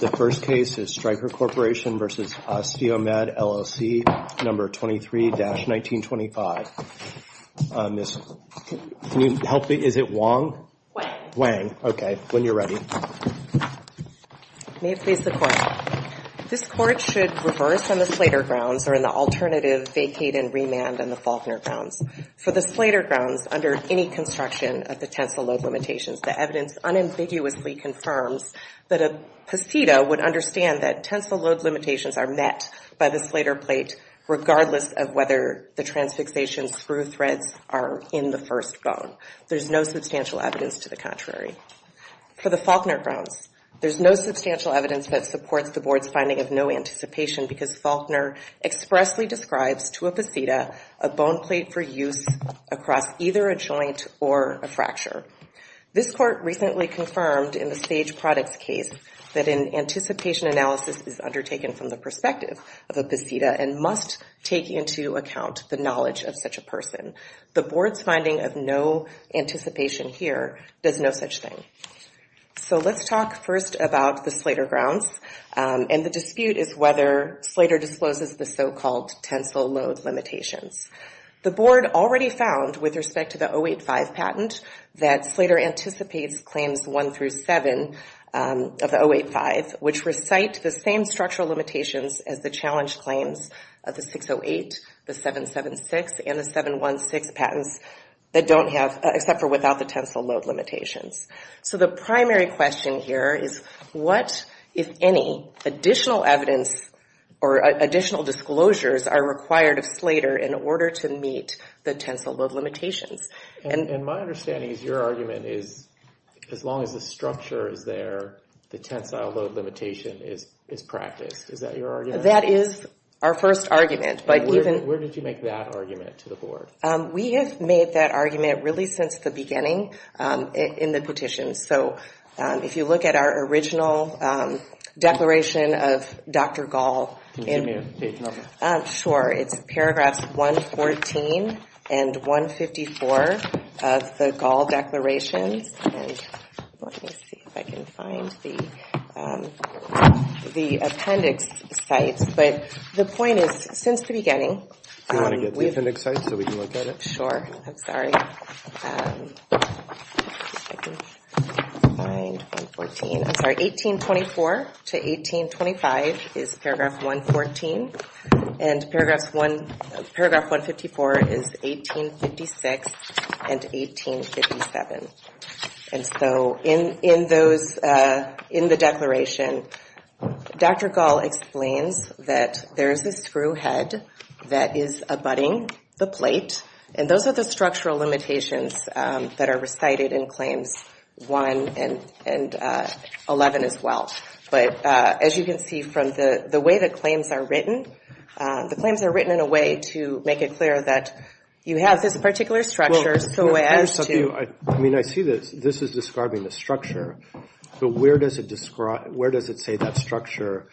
The first case is Stryker Corporation v. OsteoMed, LLC, No. 23-1925. Miss, can you help me? Is it Wang? Wang. Okay. When you're ready. May it please the court. This court should reverse on the Slater grounds or in the alternative vacate and remand on the Faulkner grounds. For the Slater grounds, under any construction of the tensile load limitations, the evidence unambiguously confirms that a posita would understand that tensile load limitations are met by the Slater plate regardless of whether the transfixation through threads are in the first bone. There's no substantial evidence to the contrary. For the Faulkner grounds, there's no substantial evidence that supports the board's finding of no anticipation because Faulkner expressly describes to a posita a bone plate for use across either a joint or a fracture. This court recently confirmed in the stage products case that an anticipation analysis is undertaken from the perspective of a posita and must take into account the knowledge of such a person. The board's finding of no anticipation here does no such thing. So let's talk first about the Slater grounds and the dispute is whether Slater discloses the so-called tensile load limitations. The board already found with respect to the 085 patent that Slater anticipates claims one through seven of the 085, which recite the same structural limitations as the challenge claims of the 608, the 776, and the 716 patents that don't have, except for without the tensile load limitations. So the primary question here is what, if any, additional evidence or additional disclosures are required of Slater in order to meet the tensile load limitations? And my understanding is your argument is as long as the structure is there, the tensile load limitation is practiced. Is that your argument? That is our first argument, but even... Where did you make that argument to the board? We have made that argument really since the beginning in the petition. So if you look at our original declaration of Dr. Gall, sure, it's paragraphs 114 and 154 of the Gall declarations. And let me see if I can find the appendix sites. But the point is, since the beginning... Do you want to get the appendix sites so we can look at it? Sure. I'm sorry. I'm sorry. 1824 to 1825 is paragraph 114, and paragraph 154 is 1856 and 1857. And so in the declaration, Dr. Gall explains that there is a screw head that is abutting the plate, and those are the structural limitations that are recited in claims one and 11 as well. But as you can see from the way that claims are written, the claims are written in a way to make it clear that you have this particular structure so as to... I mean, I see that this is describing the structure, but where does it say that structure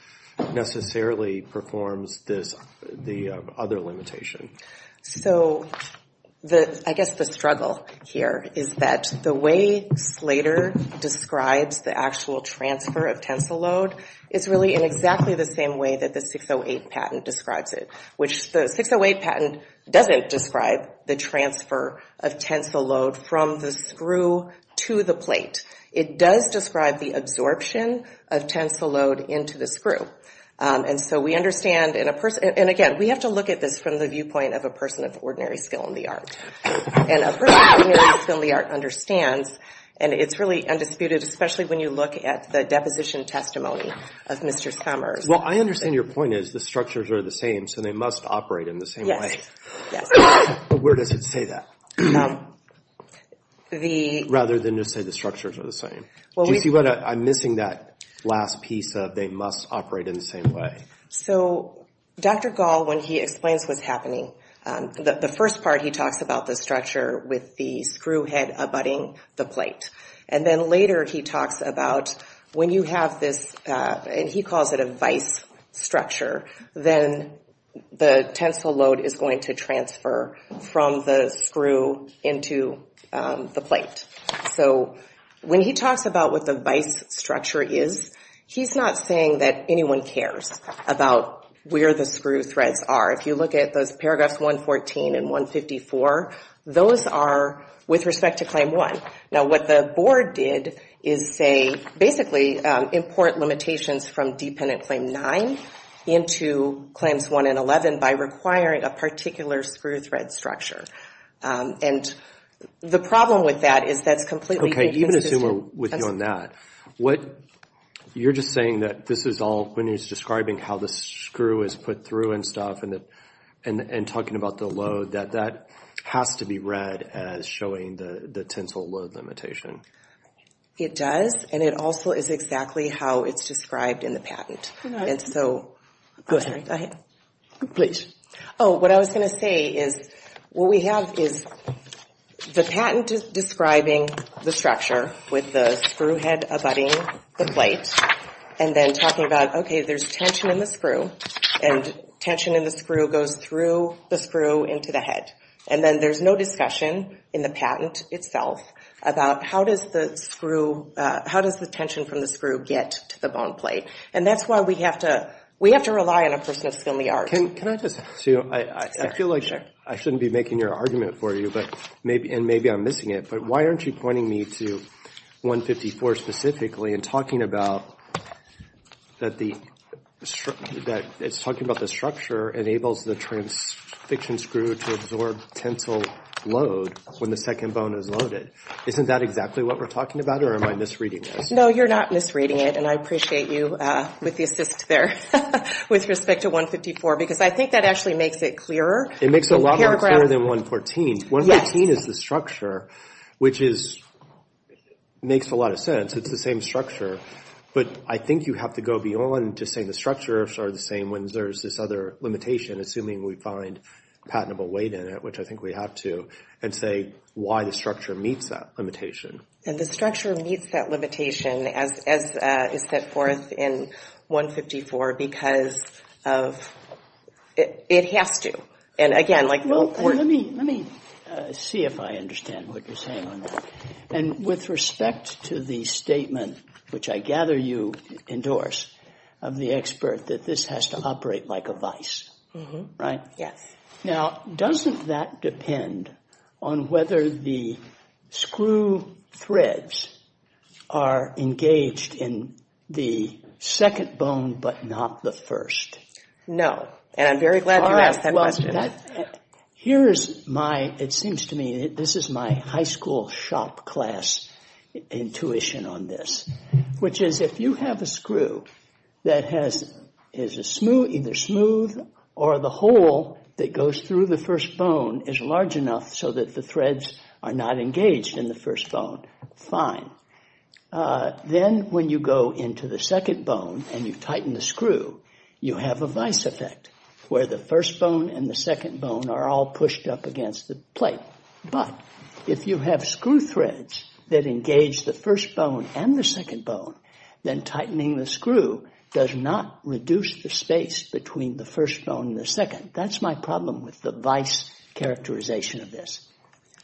necessarily performs the other limitation? So I guess the struggle here is that the way Slater describes the actual transfer of tensile load is really in exactly the same way that the 608 patent describes it, which the 608 patent doesn't describe the transfer of tensile load from the screw to the plate. It does describe the absorption of tensile load into the screw. And so we understand in a person... And again, we have to look at this from the viewpoint of a person of ordinary skill in the art. And a person of ordinary skill in the art understands, and it's really undisputed, especially when you look at the deposition testimony of Mr. Summers. Well, I understand your point is the structures are the same, so they must operate in the same way. But where does it say that, rather than just say the structures are the same? Do you see what I'm missing that last piece of they must operate in the same way? So Dr. Gall, when he explains what's happening, the first part he talks about the structure with the screw head abutting the plate. And then later he talks about when you have this, and he calls it a vise structure, then the tensile load is going to transfer from the screw into the plate. So when he talks about what the vise structure is, he's not saying that anyone cares about where the screw threads are. If you look at those paragraphs 114 and 154, those are with respect to Claim 1. Now, what the board did is say, basically, import limitations from Dependent Claim 9 into Claims 1 and 11 by requiring a particular screw thread structure. And the problem with that is that's completely inconsistent. Okay, even as we're with you on that, you're just saying that this is all, when he's describing how the screw is put through and stuff, and talking about the load, that that has to be read as showing the tensile load limitation. It does, and it also is exactly how it's described in the patent. And so, I'm sorry, go ahead. Please. Oh, what I was going to say is, what we have is the patent is describing the structure with the screw head abutting the plate, and then talking about, okay, there's tension in the screw, and tension in the screw goes through the screw into the head. And then there's no discussion in the patent itself about how does the screw, how does the tension from the screw get to the bone plate? And that's why we have to rely on a person of skill and the art. Can I just, I feel like I shouldn't be making your argument for you, and maybe I'm missing it, but why aren't you pointing me to 154 specifically, and talking about that it's talking about the structure enables the transfection screw to absorb tensile load when the second bone is loaded. Isn't that exactly what we're talking about, or am I misreading this? No, you're not misreading it, and I appreciate you with the assist there with respect to 154, because I think that actually makes it clearer. It makes it a lot clearer than 114. 114 is the structure, which is, makes a lot of sense. It's the same structure, but I think you have to go beyond just saying the structures are the same when there's this other limitation, assuming we find patentable weight in it, which I think we have to, and say why the structure meets that limitation. And the structure meets that limitation as is set forth in 154, because of, it has to, and again, like. Well, let me, let me see if I understand what you're saying on that, and with respect to the statement, which I gather you endorse of the expert, that this has to operate like a vice, right? Yes. Now, doesn't that depend on whether the screw threads are engaged in the second bone, but not the first? No, and I'm very glad you asked that question. Here's my, it seems to me that this is my high school shop class intuition on this, which is if you have a screw that has, is a smooth, either smooth or the hole that goes through the first bone is large enough so that the threads are not engaged in the first bone, fine. Then when you go into the second bone and you tighten the screw, you have a vice effect where the first bone and the second bone are all pushed up against the But if you have screw threads that engage the first bone and the second bone, then tightening the screw does not reduce the space between the first bone and the second. That's my problem with the vice characterization of this,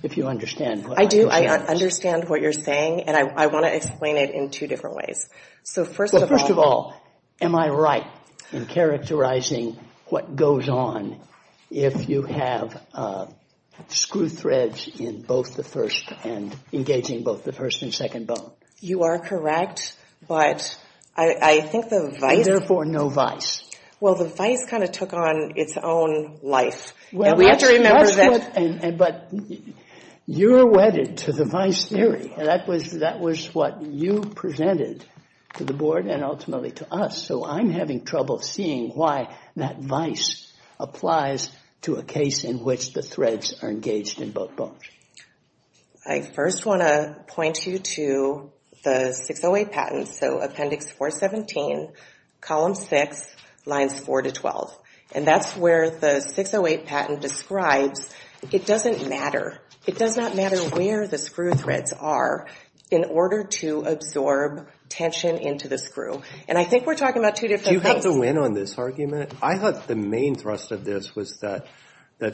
if you understand what I'm saying. I do. I understand what you're saying, and I want to explain it in two different ways. So first of all. Am I right in characterizing what goes on if you have screw threads in both the first and engaging both the first and second bone? You are correct, but I think the vice. And therefore no vice. Well, the vice kind of took on its own life. And we have to remember that. But you're wedded to the vice theory. That was what you presented to the board and ultimately to us. So I'm having trouble seeing why that vice applies to a case in which the threads are engaged in both bones. I first want to point you to the 608 patent. So Appendix 417, Column 6, Lines 4 to 12. And that's where the 608 patent describes it doesn't matter. It does not matter where the screw threads are in order to absorb tension into the screw. And I think we're talking about two different things. Do you have to win on this argument? I thought the main thrust of this was that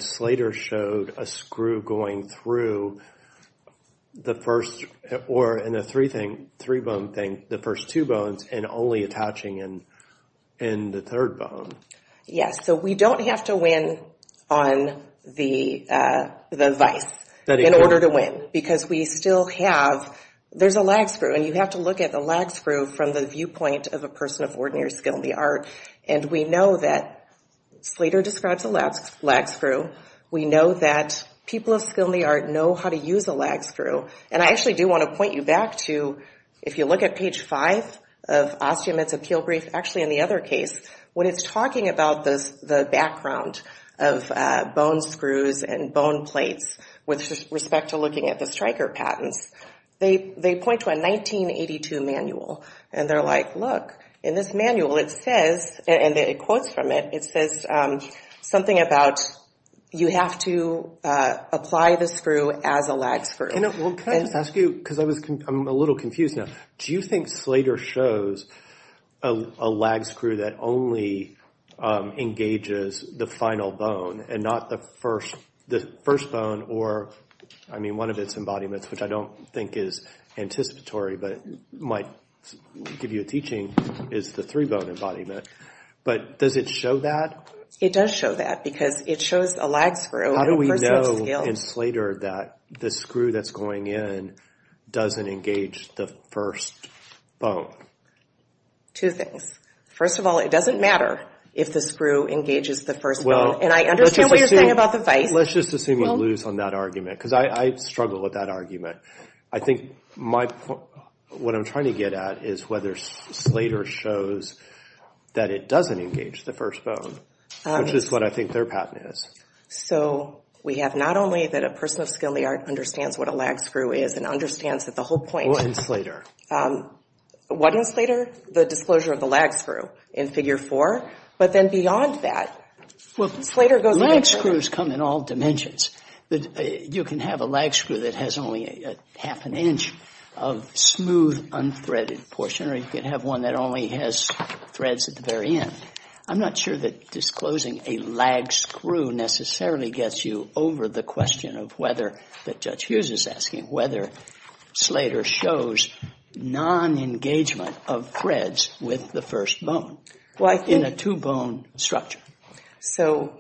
Slater showed a screw going through the first or in the three thing, three bone thing, the first two bones and only attaching in the third bone. Yes. So we don't have to win on the vice in order to win because we still have, there's a lag screw and you have to look at the lag screw from the viewpoint of a person of ordinary skill in the art. And we know that Slater describes a lag screw. We know that people of skill in the art know how to use a lag screw. And I actually do want to point you back to, if you look at page 5 of Ostia Mitz Appeal Brief, actually in the other case, when it's talking about the background of bone screws and bone plates with respect to looking at the Stryker patents, they point to a 1982 manual and they're like, look, in this manual it says, and it quotes from it, it says something about you have to apply the screw as a lag screw. Can I just ask you, because I'm a little confused now, do you think Slater shows a lag screw that only engages the final bone and not the first bone or, I mean, one of its embodiments, which I don't think is anticipatory, but might give you a teaching, is the three bone embodiment. But does it show that? It does show that because it shows a lag screw. How do we know in Slater that the screw that's going in doesn't engage the first bone? Two things. First of all, it doesn't matter if the screw engages the first bone. And I understand what you're saying about the vice. Let's just assume you lose on that argument because I struggle with that argument. I think my point, what I'm trying to get at is whether Slater shows that it doesn't engage the first bone, which is what I think their patent is. So we have not only that a person of skilly art understands what a lag screw is and understands that the whole point is. What in Slater? What in Slater? The disclosure of the lag screw in figure four. But then beyond that, Slater goes. Lag screws come in all dimensions. You can have a lag screw that has only half an inch of smooth, unthreaded portion, or you can have one that only has threads at the very end. I'm not sure that disclosing a lag screw necessarily gets you over the question of whether, that Judge Hughes is asking, whether Slater shows non-engagement of threads with the first bone in a two bone structure. So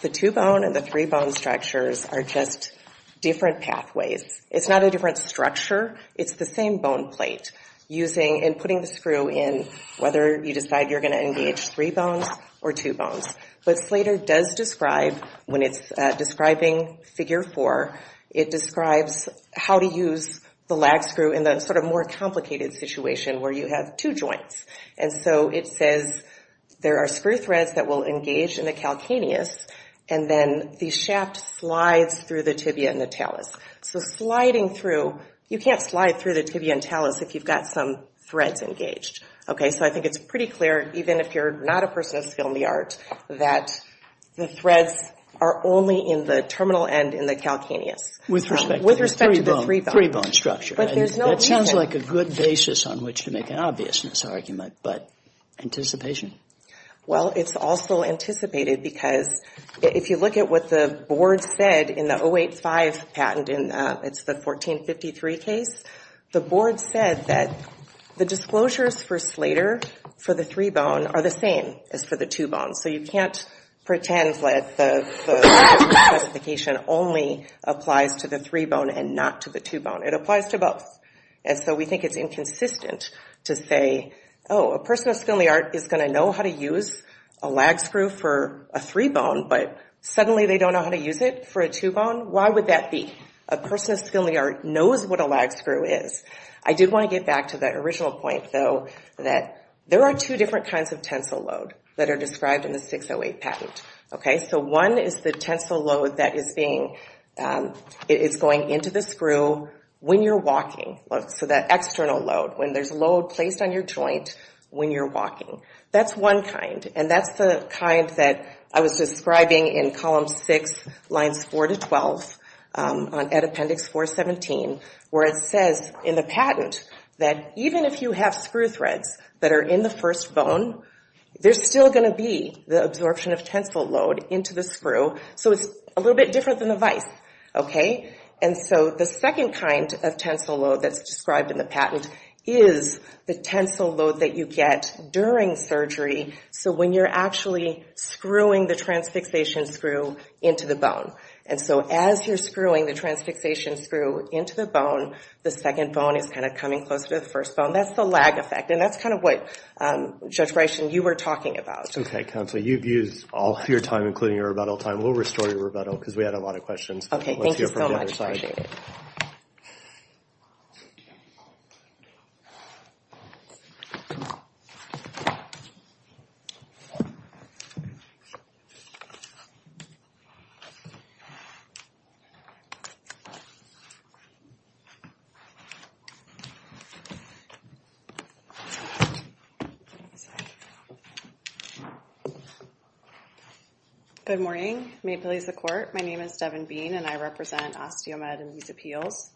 the two bone and the three bone structures are just different pathways. It's not a different structure. It's the same bone plate using and putting the screw in, whether you decide you're going to engage three bones or two bones. But Slater does describe, when it's describing figure four, it describes how to use the lag screw in the sort of more complicated situation where you have two joints. And so it says there are screw threads that will engage in the calcaneus and then the shaft slides through the tibia and the talus. So sliding through, you can't slide through the tibia and talus if you've got some threads engaged. OK, so I think it's pretty clear, even if you're not a person of skill in the art, that the threads are only in the terminal end in the calcaneus. With respect to the three bone structure, that sounds like a good basis on which to make an obviousness argument. But anticipation? Well, it's also anticipated because if you look at what the board said in the 085 patent and it's the 1453 case, the board said that the disclosures for Slater, for the three bone, are the same as for the two bone. So you can't pretend that the specification only applies to the three bone and not to the two bone. It applies to both. And so we think it's inconsistent to say, oh, a person of skill in the art is going to know how to use a lag screw for a three bone, but suddenly they don't know how to use it for a two bone. Why would that be? A person of skill in the art knows what a lag screw is. I did want to get back to that original point, though, that there are two different kinds of tensile load that are described in the 608 patent. OK, so one is the tensile load that is going into the screw when you're walking. So that external load, when there's load placed on your joint when you're walking. That's one kind. And that's the kind that I was describing in column six, lines four to 12 on Appendix 417, where it says in the patent that even if you have screw threads that are in the first bone, there's still going to be the absorption of tensile load into the screw. So it's a little bit different than the vice. OK, and so the second kind of tensile load that's described in the patent is the tensile load that you get during surgery. So when you're actually screwing the transfixation screw into the bone. And so as you're screwing the transfixation screw into the bone, the second bone is kind of coming closer to the first bone. That's the lag effect. And that's kind of what, Judge Bryson, you were talking about. OK, Counselor, you've used all your time, including your rebuttal time. We'll restore your rebuttal because we had a lot of questions. OK, thank you so much. Good morning. May it please the court. My name is Devon Bean and I represent Osteomed in these appeals.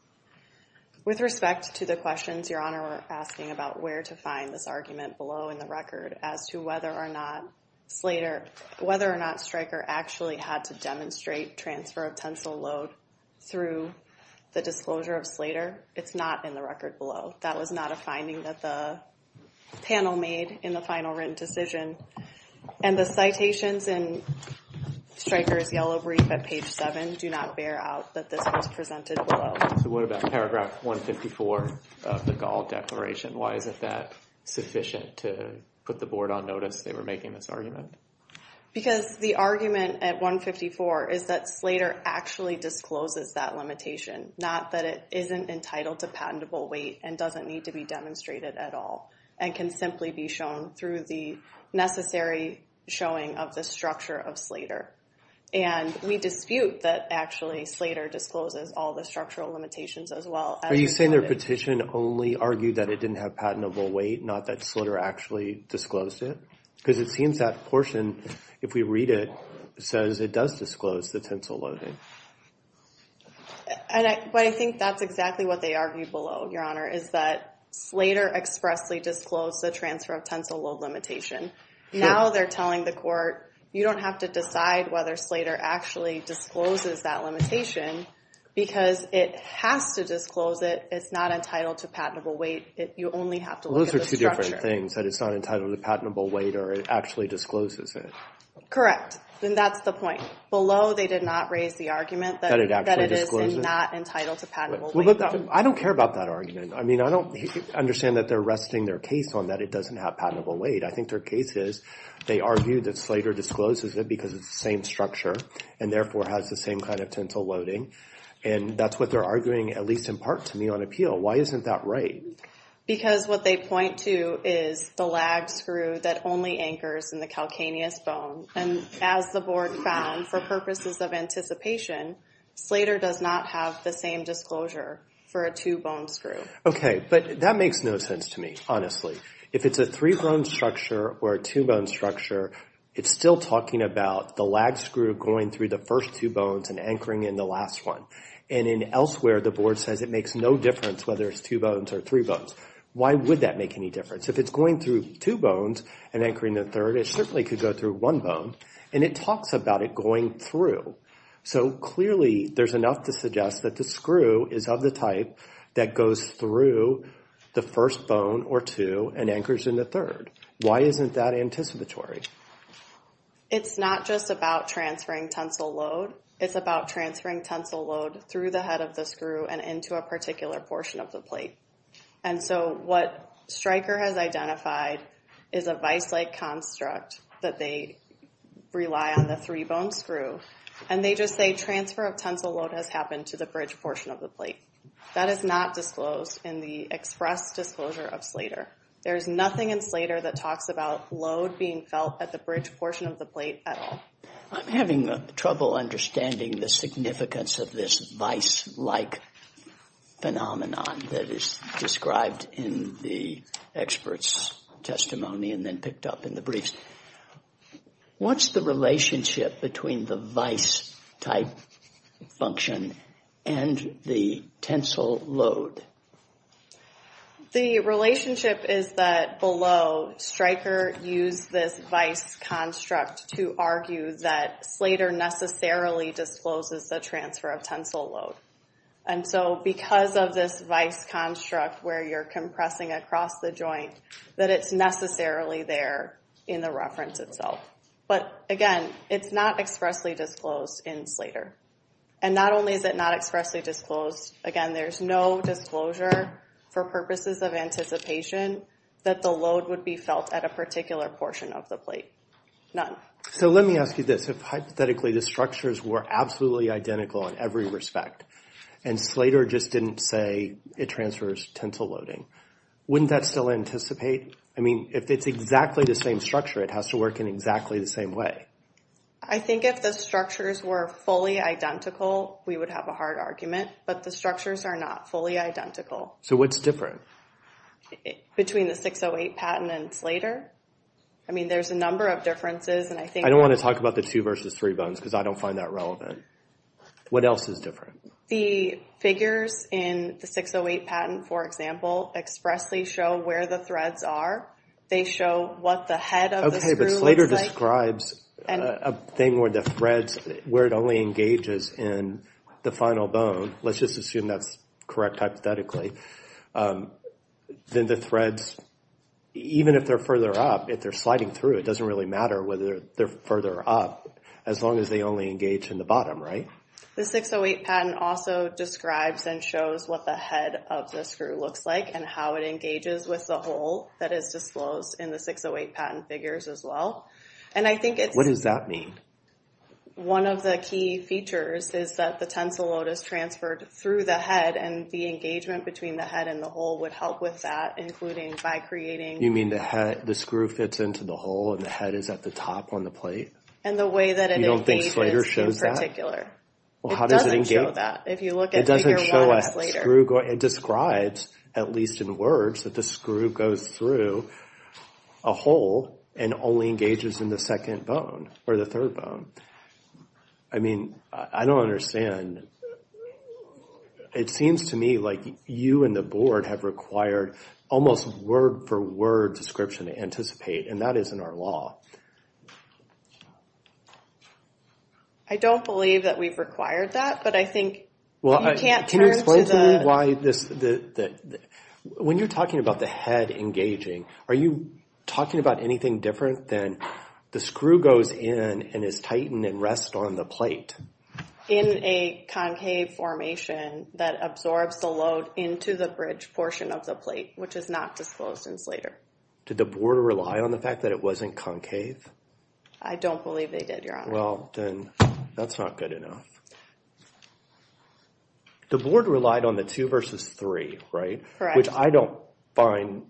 With respect to the questions Your Honor were asking about where to find this argument below in the record as to whether or not Slater, whether or not Stryker actually had to demonstrate transfer of tensile load through the disclosure of Slater, it's not in the record below. That was not a finding that the panel made in the final written decision. And the citations in Stryker's yellow brief at page seven do not bear out that this was presented below. So what about paragraph 154 of the Gall declaration? Why is it that sufficient to put the board on notice they were making this argument? Because the argument at 154 is that Slater actually discloses that limitation, not that it isn't entitled to patentable weight and doesn't need to be demonstrated at all and can simply be shown through the necessary showing of the structure of Slater. And we dispute that actually Slater discloses all the structural limitations as well. Are you saying their petition only argued that it didn't have patentable weight, not that Slater actually disclosed it? Because it seems that portion, if we read it, says it does disclose the tensile loading. And I think that's exactly what they argued below, Your Honor, is that Slater expressly disclosed the transfer of tensile load limitation. Now they're telling the court, you don't have to decide whether Slater actually discloses that limitation because it has to disclose it. It's not entitled to patentable weight. You only have to look at the structure. Those are two different things, that it's not entitled to patentable weight or it actually discloses it. Correct. Then that's the point. Below, they did not raise the argument that it is not entitled to patentable weight. I don't care about that argument. I mean, I don't understand that they're arresting their case on that it doesn't have patentable weight. I think their case is they argue that Slater discloses it because it's the same structure and therefore has the same kind of tensile loading. And that's what they're arguing, at least in part, to me on appeal. Why isn't that right? Because what they point to is the lag screw that only anchors in the calcaneus bone. And as the board found, for purposes of anticipation, Slater does not have the same disclosure for a two-bone screw. Okay, but that makes no sense to me, honestly. If it's a three-bone structure or a two-bone structure, it's still talking about the lag screw going through the first two bones and anchoring in the last one. And in elsewhere, the board says it makes no difference whether it's two bones or three bones. Why would that make any difference? If it's going through two bones and anchoring the third, it certainly could go through one bone. And it talks about it going through. So clearly, there's enough to suggest that the screw is of the type that goes through the first bone or two and anchors in the third. Why isn't that anticipatory? It's not just about transferring tensile load. It's about transferring tensile load through the head of the screw and into a particular portion of the plate. And so what Stryker has identified is a vice-like construct that they rely on the three-bone screw. And they just say transfer of tensile load has happened to the bridge portion of the That is not disclosed in the express disclosure of Slater. There's nothing in Slater that talks about load being felt at the bridge portion of the plate at all. I'm having trouble understanding the significance of this vice-like phenomenon that is described in the expert's testimony and then picked up in the briefs. What's the relationship between the vice-type function and the tensile load? The relationship is that below, Stryker used this vice construct to argue that Slater necessarily discloses the transfer of tensile load. And so because of this vice construct where you're compressing across the joint, that it's necessarily there in the reference itself. But again, it's not expressly disclosed in Slater. And not only is it not expressly disclosed, again, there's no disclosure for purposes of anticipation that the load would be felt at a particular portion of the plate. None. So let me ask you this. Hypothetically, the structures were absolutely identical in every respect. And Slater just didn't say it transfers tensile loading. Wouldn't that still anticipate? I mean, if it's exactly the same structure, it has to work in exactly the same way. I think if the structures were fully identical, we would have a hard argument. But the structures are not fully identical. So what's different? Between the 608 patent and Slater? I mean, there's a number of differences. I don't want to talk about the two versus three bones because I don't find that relevant. What else is different? The figures in the 608 patent, for example, expressly show where the threads are. They show what the head of the screw looks like. But Slater describes a thing where the threads, where it only engages in the final bone. Let's just assume that's correct hypothetically. Then the threads, even if they're further up, if they're sliding through, it doesn't really matter whether they're further up as long as they only engage in the bottom. The 608 patent also describes and shows what the head of the screw looks like and how it engages with the hole that is disclosed in the 608 patent figures as well. And I think it's... What does that mean? One of the key features is that the tensile load is transferred through the head and the engagement between the head and the hole would help with that, including by creating... You mean the head, the screw fits into the hole and the head is at the top on the plate? And the way that it engages in particular, it doesn't show that. If you look at... It doesn't show a screw going... It describes, at least in words, that the screw goes through a hole and only engages in the second bone or the third bone. I mean, I don't understand. And it seems to me like you and the board have required almost word-for-word description to anticipate, and that isn't our law. I don't believe that we've required that, but I think you can't turn to the... Can you explain to me why this... When you're talking about the head engaging, are you talking about anything different than the screw goes in and is tightened and rests on the plate? In a concave formation that absorbs the load into the bridge portion of the plate, which is not disclosed in Slater. Did the board rely on the fact that it wasn't concave? I don't believe they did, Your Honor. Well, then that's not good enough. The board relied on the two versus three, right? Correct. Which I don't find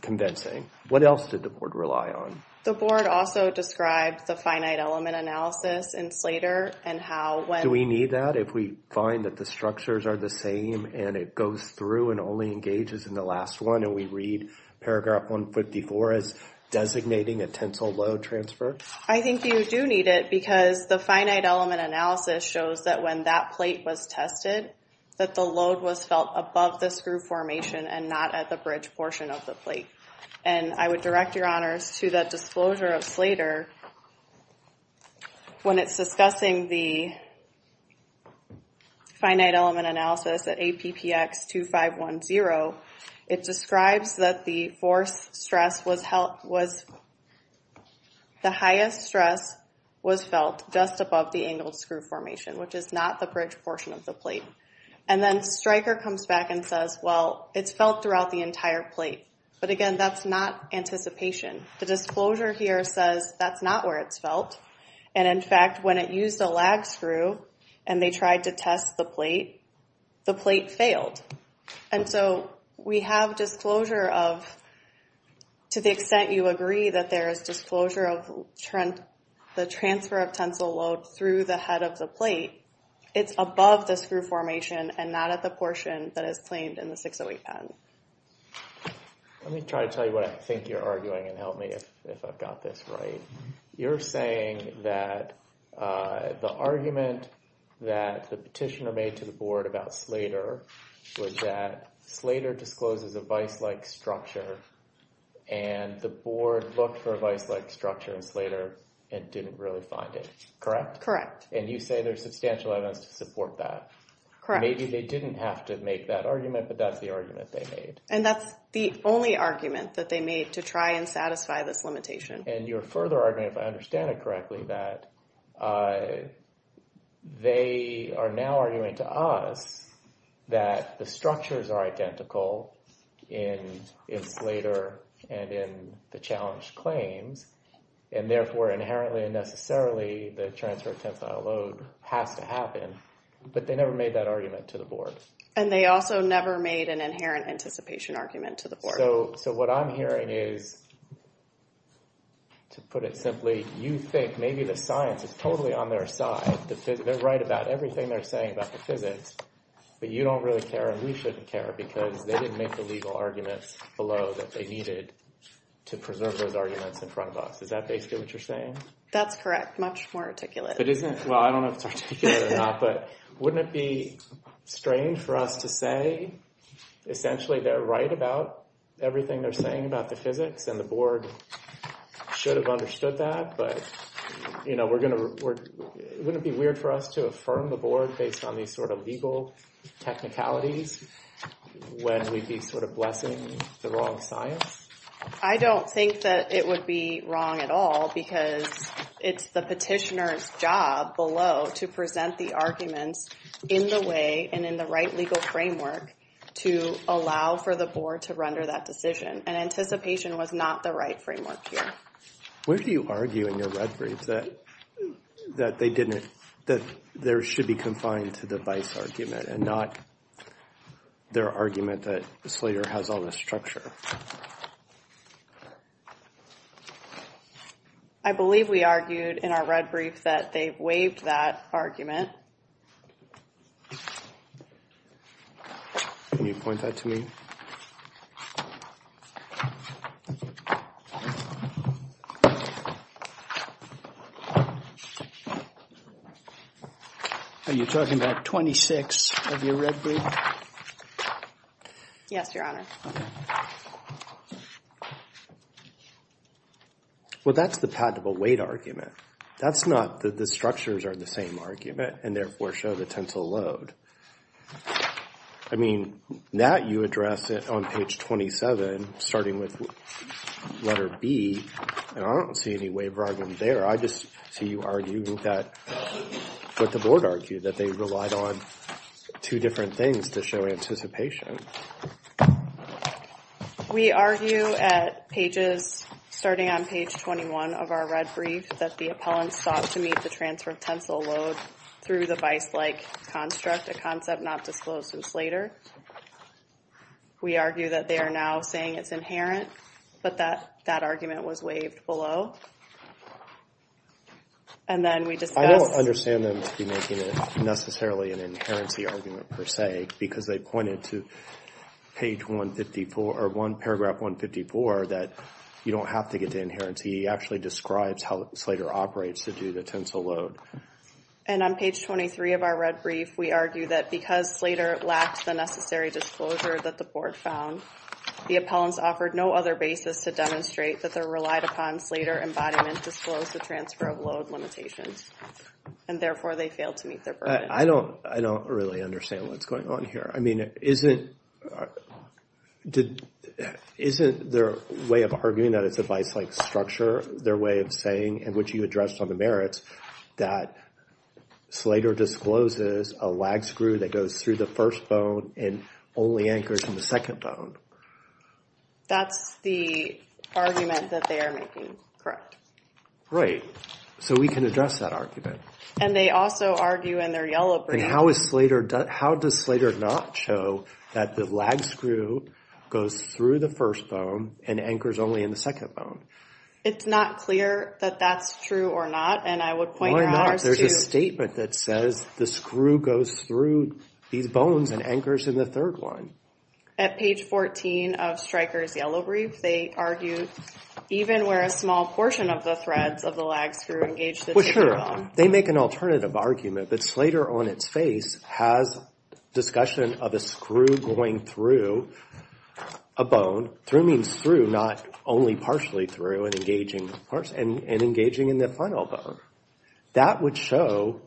convincing. What else did the board rely on? The board also described the finite element analysis in Slater and how when... Do we need that if we find that the structures are the same and it goes through and only engages in the last one and we read paragraph 154 as designating a tensile load transfer? I think you do need it because the finite element analysis shows that when that plate was tested, that the load was felt above the screw formation and not at the bridge portion of the plate. And I would direct Your Honors to that disclosure of Slater. When it's discussing the finite element analysis at APPX 2510, it describes that the force stress was the highest stress was felt just above the angled screw formation, which is not the bridge portion of the plate. And then Stryker comes back and says, well, it's felt throughout the entire plate. But again, that's not anticipation. The disclosure here says that's not where it's felt. And in fact, when it used a lag screw and they tried to test the plate, the plate failed. And so we have disclosure of, to the extent you agree that there is disclosure of the transfer of tensile load through the head of the plate, it's above the screw formation and not at the portion that is claimed in the 608 patent. Let me try to tell you what I think you're arguing and help me if I've got this right. You're saying that the argument that the petitioner made to the board about Slater was that Slater discloses a vice-like structure and the board looked for a vice-like structure in Slater and didn't really find it, correct? Correct. And you say there's substantial evidence to support that. Correct. Maybe they didn't have to make that argument, but that's the argument they made. And that's the only argument that they made to try and satisfy this limitation. And your further argument, if I understand it correctly, that they are now arguing to us that the structures are identical in Slater and in the challenged claims and therefore inherently and necessarily the transfer of tensile load has to happen, but they never made that argument to the board. And they also never made an inherent anticipation argument to the board. So what I'm hearing is, to put it simply, you think maybe the science is totally on their side. They're right about everything they're saying about the physics, but you don't really care and we shouldn't care because they didn't make the legal arguments below that they needed to preserve those arguments in front of us. Is that basically what you're saying? That's correct. Much more articulate. Well, I don't know if it's articulate or not, but wouldn't it be strange for us to say essentially they're right about everything they're saying about the physics and the board should have understood that. But, you know, wouldn't it be weird for us to affirm the board based on these sort of legal technicalities when we'd be sort of blessing the wrong science? I don't think that it would be wrong at all because it's the petitioner's job below to present the arguments in the way and in the right legal framework to allow for the board to render that decision. And anticipation was not the right framework here. Where do you argue in your referees that they didn't, that there should be confined to the vice argument and not their argument that Slater has all this structure? I believe we argued in our red brief that they've waived that argument. Can you point that to me? Are you talking about 26 of your red brief? Yes, Your Honor. Well, that's the patentable weight argument. That's not that the structures are the same argument and therefore show the tensile load. I mean, that you address it on page 27, starting with letter B. And I don't see any waiver argument there. I just see you arguing that, what the board argued, that they relied on two different things to show anticipation. We argue at pages, starting on page 21 of our red brief, that the appellant sought to meet the transfer of tensile load through the vice-like construct, a concept not disclosed to Slater. We argue that they are now saying it's inherent, but that that argument was waived below. And then we discussed... I don't understand them to be making it necessarily an inherency argument per se, because they pointed to page 154, or one paragraph 154, that you don't have to get to inherency. He actually describes how Slater operates to do the tensile load. And on page 23 of our red brief, we argue that because Slater lacked the necessary disclosure that the board found, the appellants offered no other basis to demonstrate that they relied upon Slater embodiment to disclose the transfer of load limitations. And therefore, they failed to meet their burden. I don't really understand what's going on here. I mean, isn't their way of arguing that it's a vice-like structure their way of saying, in which you addressed on the merits, that Slater discloses a lag screw that goes through the first bone and only anchors in the second bone? That's the argument that they are making, correct. Right. So we can address that argument. And they also argue in their yellow brief. And how is Slater, how does Slater not show that the lag screw goes through the first bone and anchors only in the second bone? It's not clear that that's true or not. And I would point out, there's a statement that says the screw goes through these bones and anchors in the third one. At page 14 of Stryker's yellow brief, they argue even where a small portion of the threads of the lag screw engaged in the second bone. Well, sure. They make an alternative argument. But Slater on its face has discussion of a screw going through a bone. Through means through, not only partially through and engaging in the final bone. That would show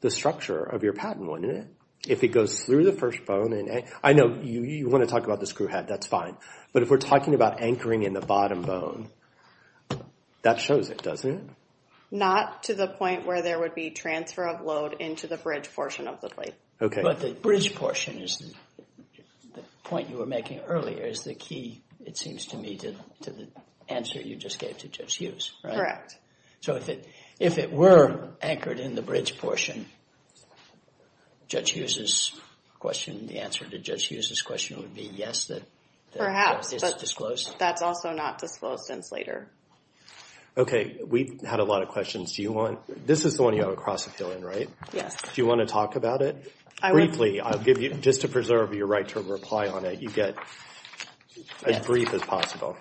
the structure of your patent, wouldn't it? If it goes through the first bone and... I know you want to talk about the screw head, that's fine. But if we're talking about anchoring in the bottom bone, that shows it, doesn't it? Not to the point where there would be transfer of load into the bridge portion of the plate. OK. But the bridge portion is the point you were making earlier is the key, it seems to me, to the answer you just gave to Judge Hughes. Correct. So if it were anchored in the bridge portion, Judge Hughes's question, the answer to Judge Hughes's question is perhaps, but that's also not disclosed since Slater. OK. We've had a lot of questions. Do you want... This is the one you have a cross-appeal in, right? Yes. Do you want to talk about it briefly? I'll give you, just to preserve your right to reply on it, you get as brief as possible.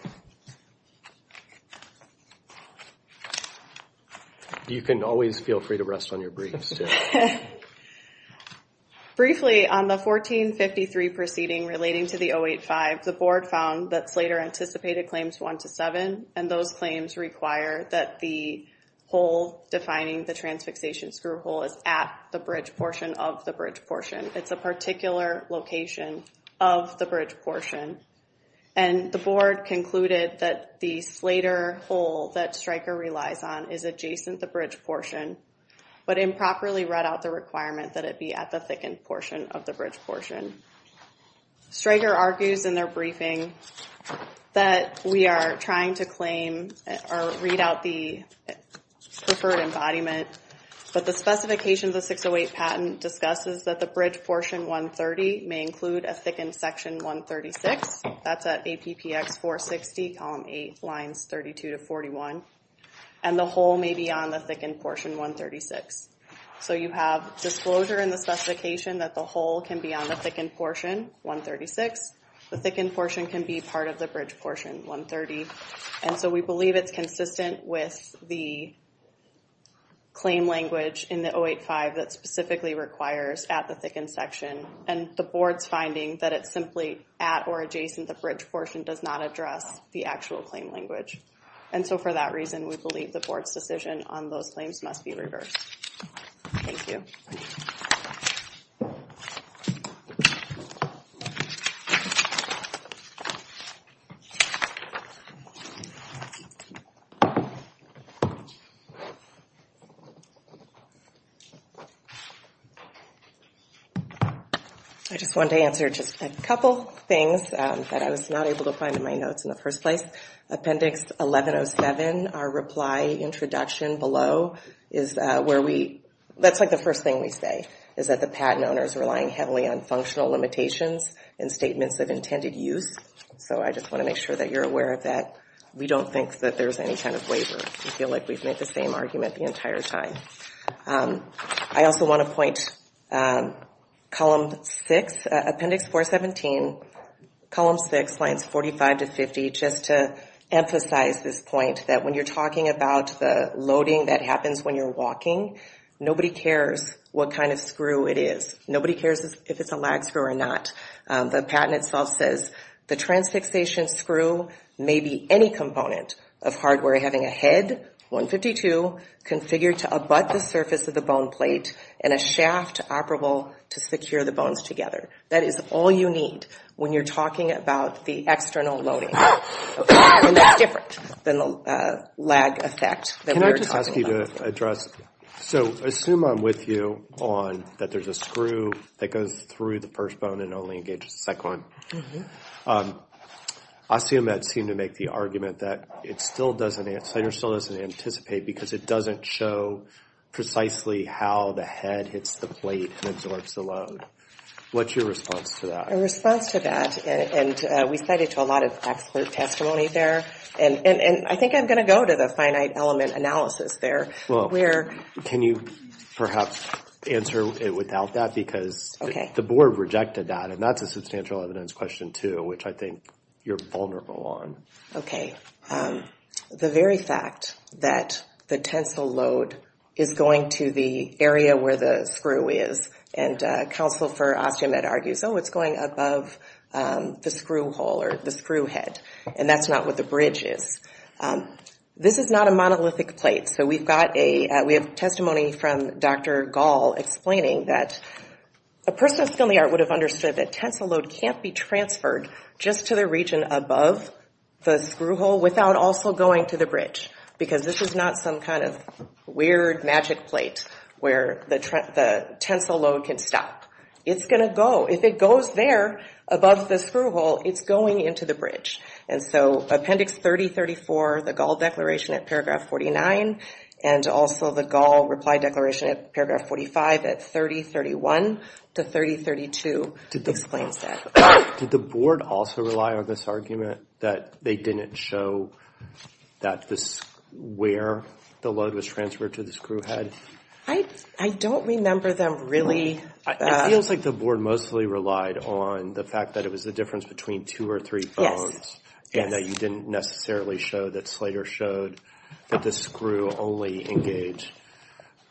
You can always feel free to rest on your briefs. Briefly, on the 1453 proceeding relating to the 085, the board found that Slater anticipated claims 1 to 7, and those claims require that the hole defining the transfixation screw hole is at the bridge portion of the bridge portion. It's a particular location of the bridge portion. And the board concluded that the Slater hole that Stryker relies on is adjacent the bridge portion, but improperly read out the requirement that it be at the thickened portion of the bridge portion. Stryker argues in their briefing that we are trying to claim or read out the preferred embodiment, but the specifications of 608 patent discusses that the bridge portion 130 may include a thickened section 136. That's at APPX 460, column 8, lines 32 to 41. And the hole may be on the thickened portion 136. So you have disclosure in the specification that the hole can be on the thickened portion 136. The thickened portion can be part of the bridge portion 130. And so we believe it's consistent with the claim language in the 085 that specifically requires at the thickened section. And the board's finding that it's simply at or adjacent the bridge portion does not address the actual claim language. And so for that reason we believe the board's decision on those claims must be reversed. I just wanted to answer just a couple things that I was not able to find in my notes in the first place. Appendix 1107, our reply introduction below, is where we, that's like the first thing we say, is that the patent owner is relying heavily on functional limitations and statements of intended use. So I just want to make sure that you're aware of that. We don't think that there's any kind of waiver. We feel like we've made the same argument the entire time. I also want to point, column 6, appendix 417, column 6, lines 45 to 50, just to emphasize this point, that when you're talking about the loading that happens when you're walking, nobody cares what kind of screw it is. Nobody cares if it's a lag screw or not. The patent itself says the transfixation screw may be any component of hardware having a head, 152, configured to abut the surface of the bone plate, and a shaft operable to secure the bones together. That is all you need when you're talking about the external loading. And that's different than the lag effect that we're talking about. Can I just ask you to address, so assume I'm with you on that there's a screw that goes through the first bone and only engages the second one. I assume that seemed to make the argument that it still doesn't, the center still doesn't anticipate because it doesn't show precisely how the head hits the plate and absorbs the load. What's your response to that? Our response to that, and we cited to a lot of expert testimony there. And I think I'm going to go to the finite element analysis there. Well, can you perhaps answer it without that? Because the board rejected that, and that's a substantial evidence question, too, which I think you're vulnerable on. OK. The very fact that the tensile load is going to the area where the screw is, and counsel for Osteomed argues, oh, it's going above the screw hole or the screw head. And that's not what the bridge is. This is not a monolithic plate. So we've got a, we have testimony from Dr. Gall explaining that a person of skill and the art would have understood that tensile load can't be transferred just to the region above the screw hole without also going to the bridge. Because this is not some kind of weird magic plate where the tensile load can stop. It's going to go, if it goes there above the screw hole, it's going into the bridge. And so Appendix 3034, the Gall declaration at paragraph 49, and also the Gall reply declaration at paragraph 45 at 3031 to 3032 explains that. Did the board also rely on this argument that they didn't show that this, where the load was transferred to the screw head? I don't remember them really. It feels like the board mostly relied on the fact that it was the difference between two or three bones. And that you didn't necessarily show that Slater showed that the screw only engaged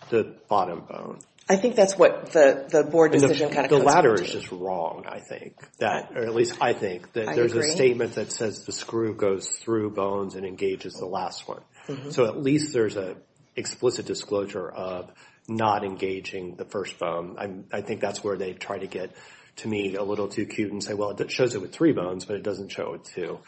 the bottom bone. I think that's what the board decision kind of comes down to. The latter is just wrong. I think that, or at least I think that there's a statement that says the screw goes through bones and engages the last one. So at least there's a explicit disclosure of not engaging the first bone. I think that's where they try to get, to me, a little too cute and say, well, it shows it with three bones, but it doesn't show it with two.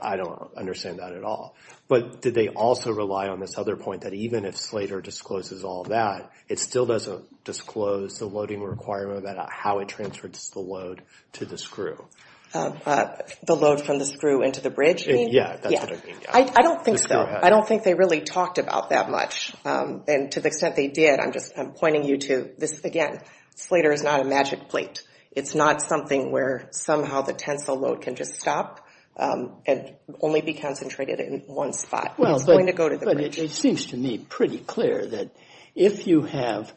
I don't understand that at all. But did they also rely on this other point that even if Slater discloses all that, it still doesn't disclose the loading requirement about how it transfers the load to the screw? The load from the screw into the bridge? Yeah, that's what I mean. I don't think so. I don't think they really talked about that much. And to the extent they did, I'm just pointing you to this again. Slater is not a magic plate. It's not something where somehow the tensile load can just stop and only be concentrated in one spot. Well, but it seems to me pretty clear that if you have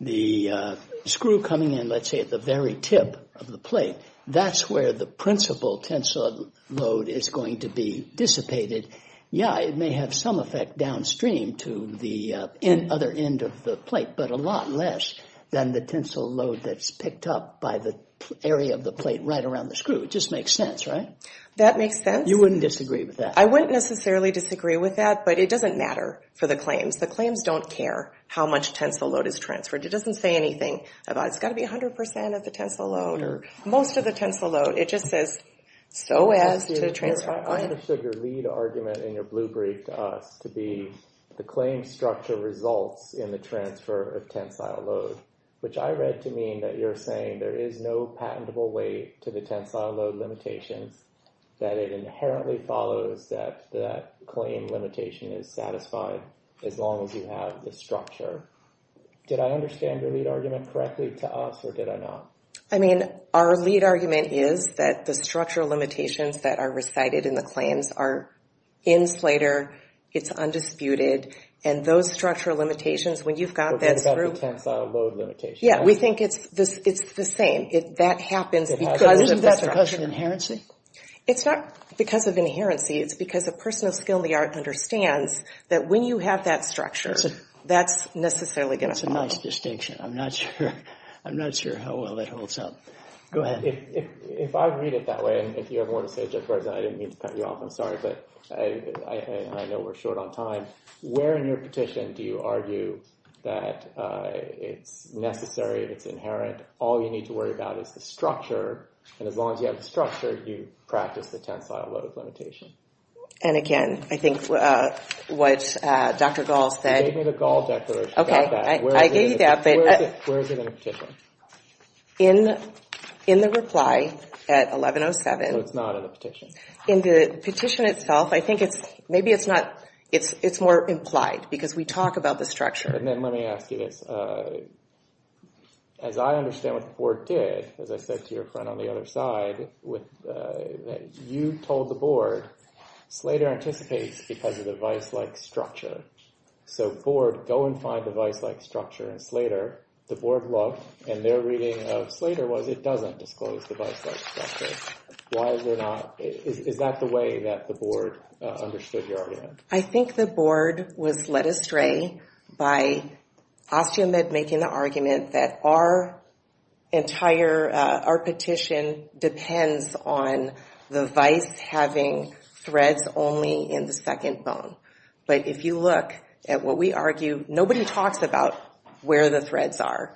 the screw coming in, let's say at the very tip of the plate, that's where the principal tensile load is going to be dissipated. Yeah, it may have some effect downstream to the other end of the plate, but a lot less than the tensile load that's picked up by the area of the plate right around the screw. It just makes sense, right? That makes sense. You wouldn't disagree with that? I wouldn't necessarily disagree with that, but it doesn't matter for the claims. The claims don't care how much tensile load is transferred. It doesn't say anything about it's got to be 100 percent of the tensile load or most of the tensile load. It just says so as to the transfer. I understood your lead argument in your blue brief to us to be the claim structure results in the transfer of tensile load, which I read to mean that you're saying there is no patentable way to the tensile load limitations, that it inherently follows that the claim limitation is satisfied as long as you have the structure. Did I understand your lead argument correctly to us or did I not? I mean, our lead argument is that the structural limitations that are recited in the claims are in Slater, it's undisputed, and those structural limitations, when you've got that screw. We're talking about the tensile load limitation. Yeah, we think it's the same. That happens because of the structure. Isn't that because of inherency? It's not because of inherency. It's because a person of skill in the art understands that when you have that structure, that's necessarily going to follow. That's a nice distinction. I'm not sure. I'm not sure how well that holds up. Go ahead. If I read it that way, and if you ever want to say it, I didn't mean to cut you off, I'm sorry, but I know we're short on time. Where in your petition do you argue that it's necessary, it's inherent, all you need to worry about is the structure. And as long as you have the structure, you practice the tensile load limitation. And again, I think what Dr. Gall said. You gave me the Gall declaration about that. I gave you that, but. Where is it in the petition? In the reply at 1107. So it's not in the petition. In the petition itself, I think it's maybe it's not, it's more implied because we talk about the structure. And then let me ask you this. As I understand what the board did, as I said to your friend on the other side, you told the board, Slater anticipates because of the vice-like structure. So board, go and find the vice-like structure in Slater. The board looked and their reading of Slater was it doesn't disclose the vice-like structure. Why is it not? Is that the way that the board understood your argument? I think the board was led astray by Osteomed making the argument that our entire, our petition depends on the vice having threads only in the second bone. But if you look at what we argue, nobody talks about where the threads are.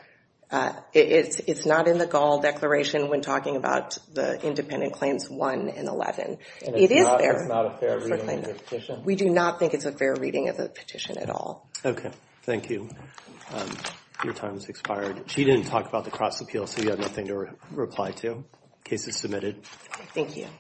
It's not in the Gall declaration when talking about the independent claims one and 11. It is there. We do not think it's a fair reading of the petition at all. OK, thank you. Your time has expired. She didn't talk about the cross appeal, so you have nothing to reply to. Case is submitted. Thank you.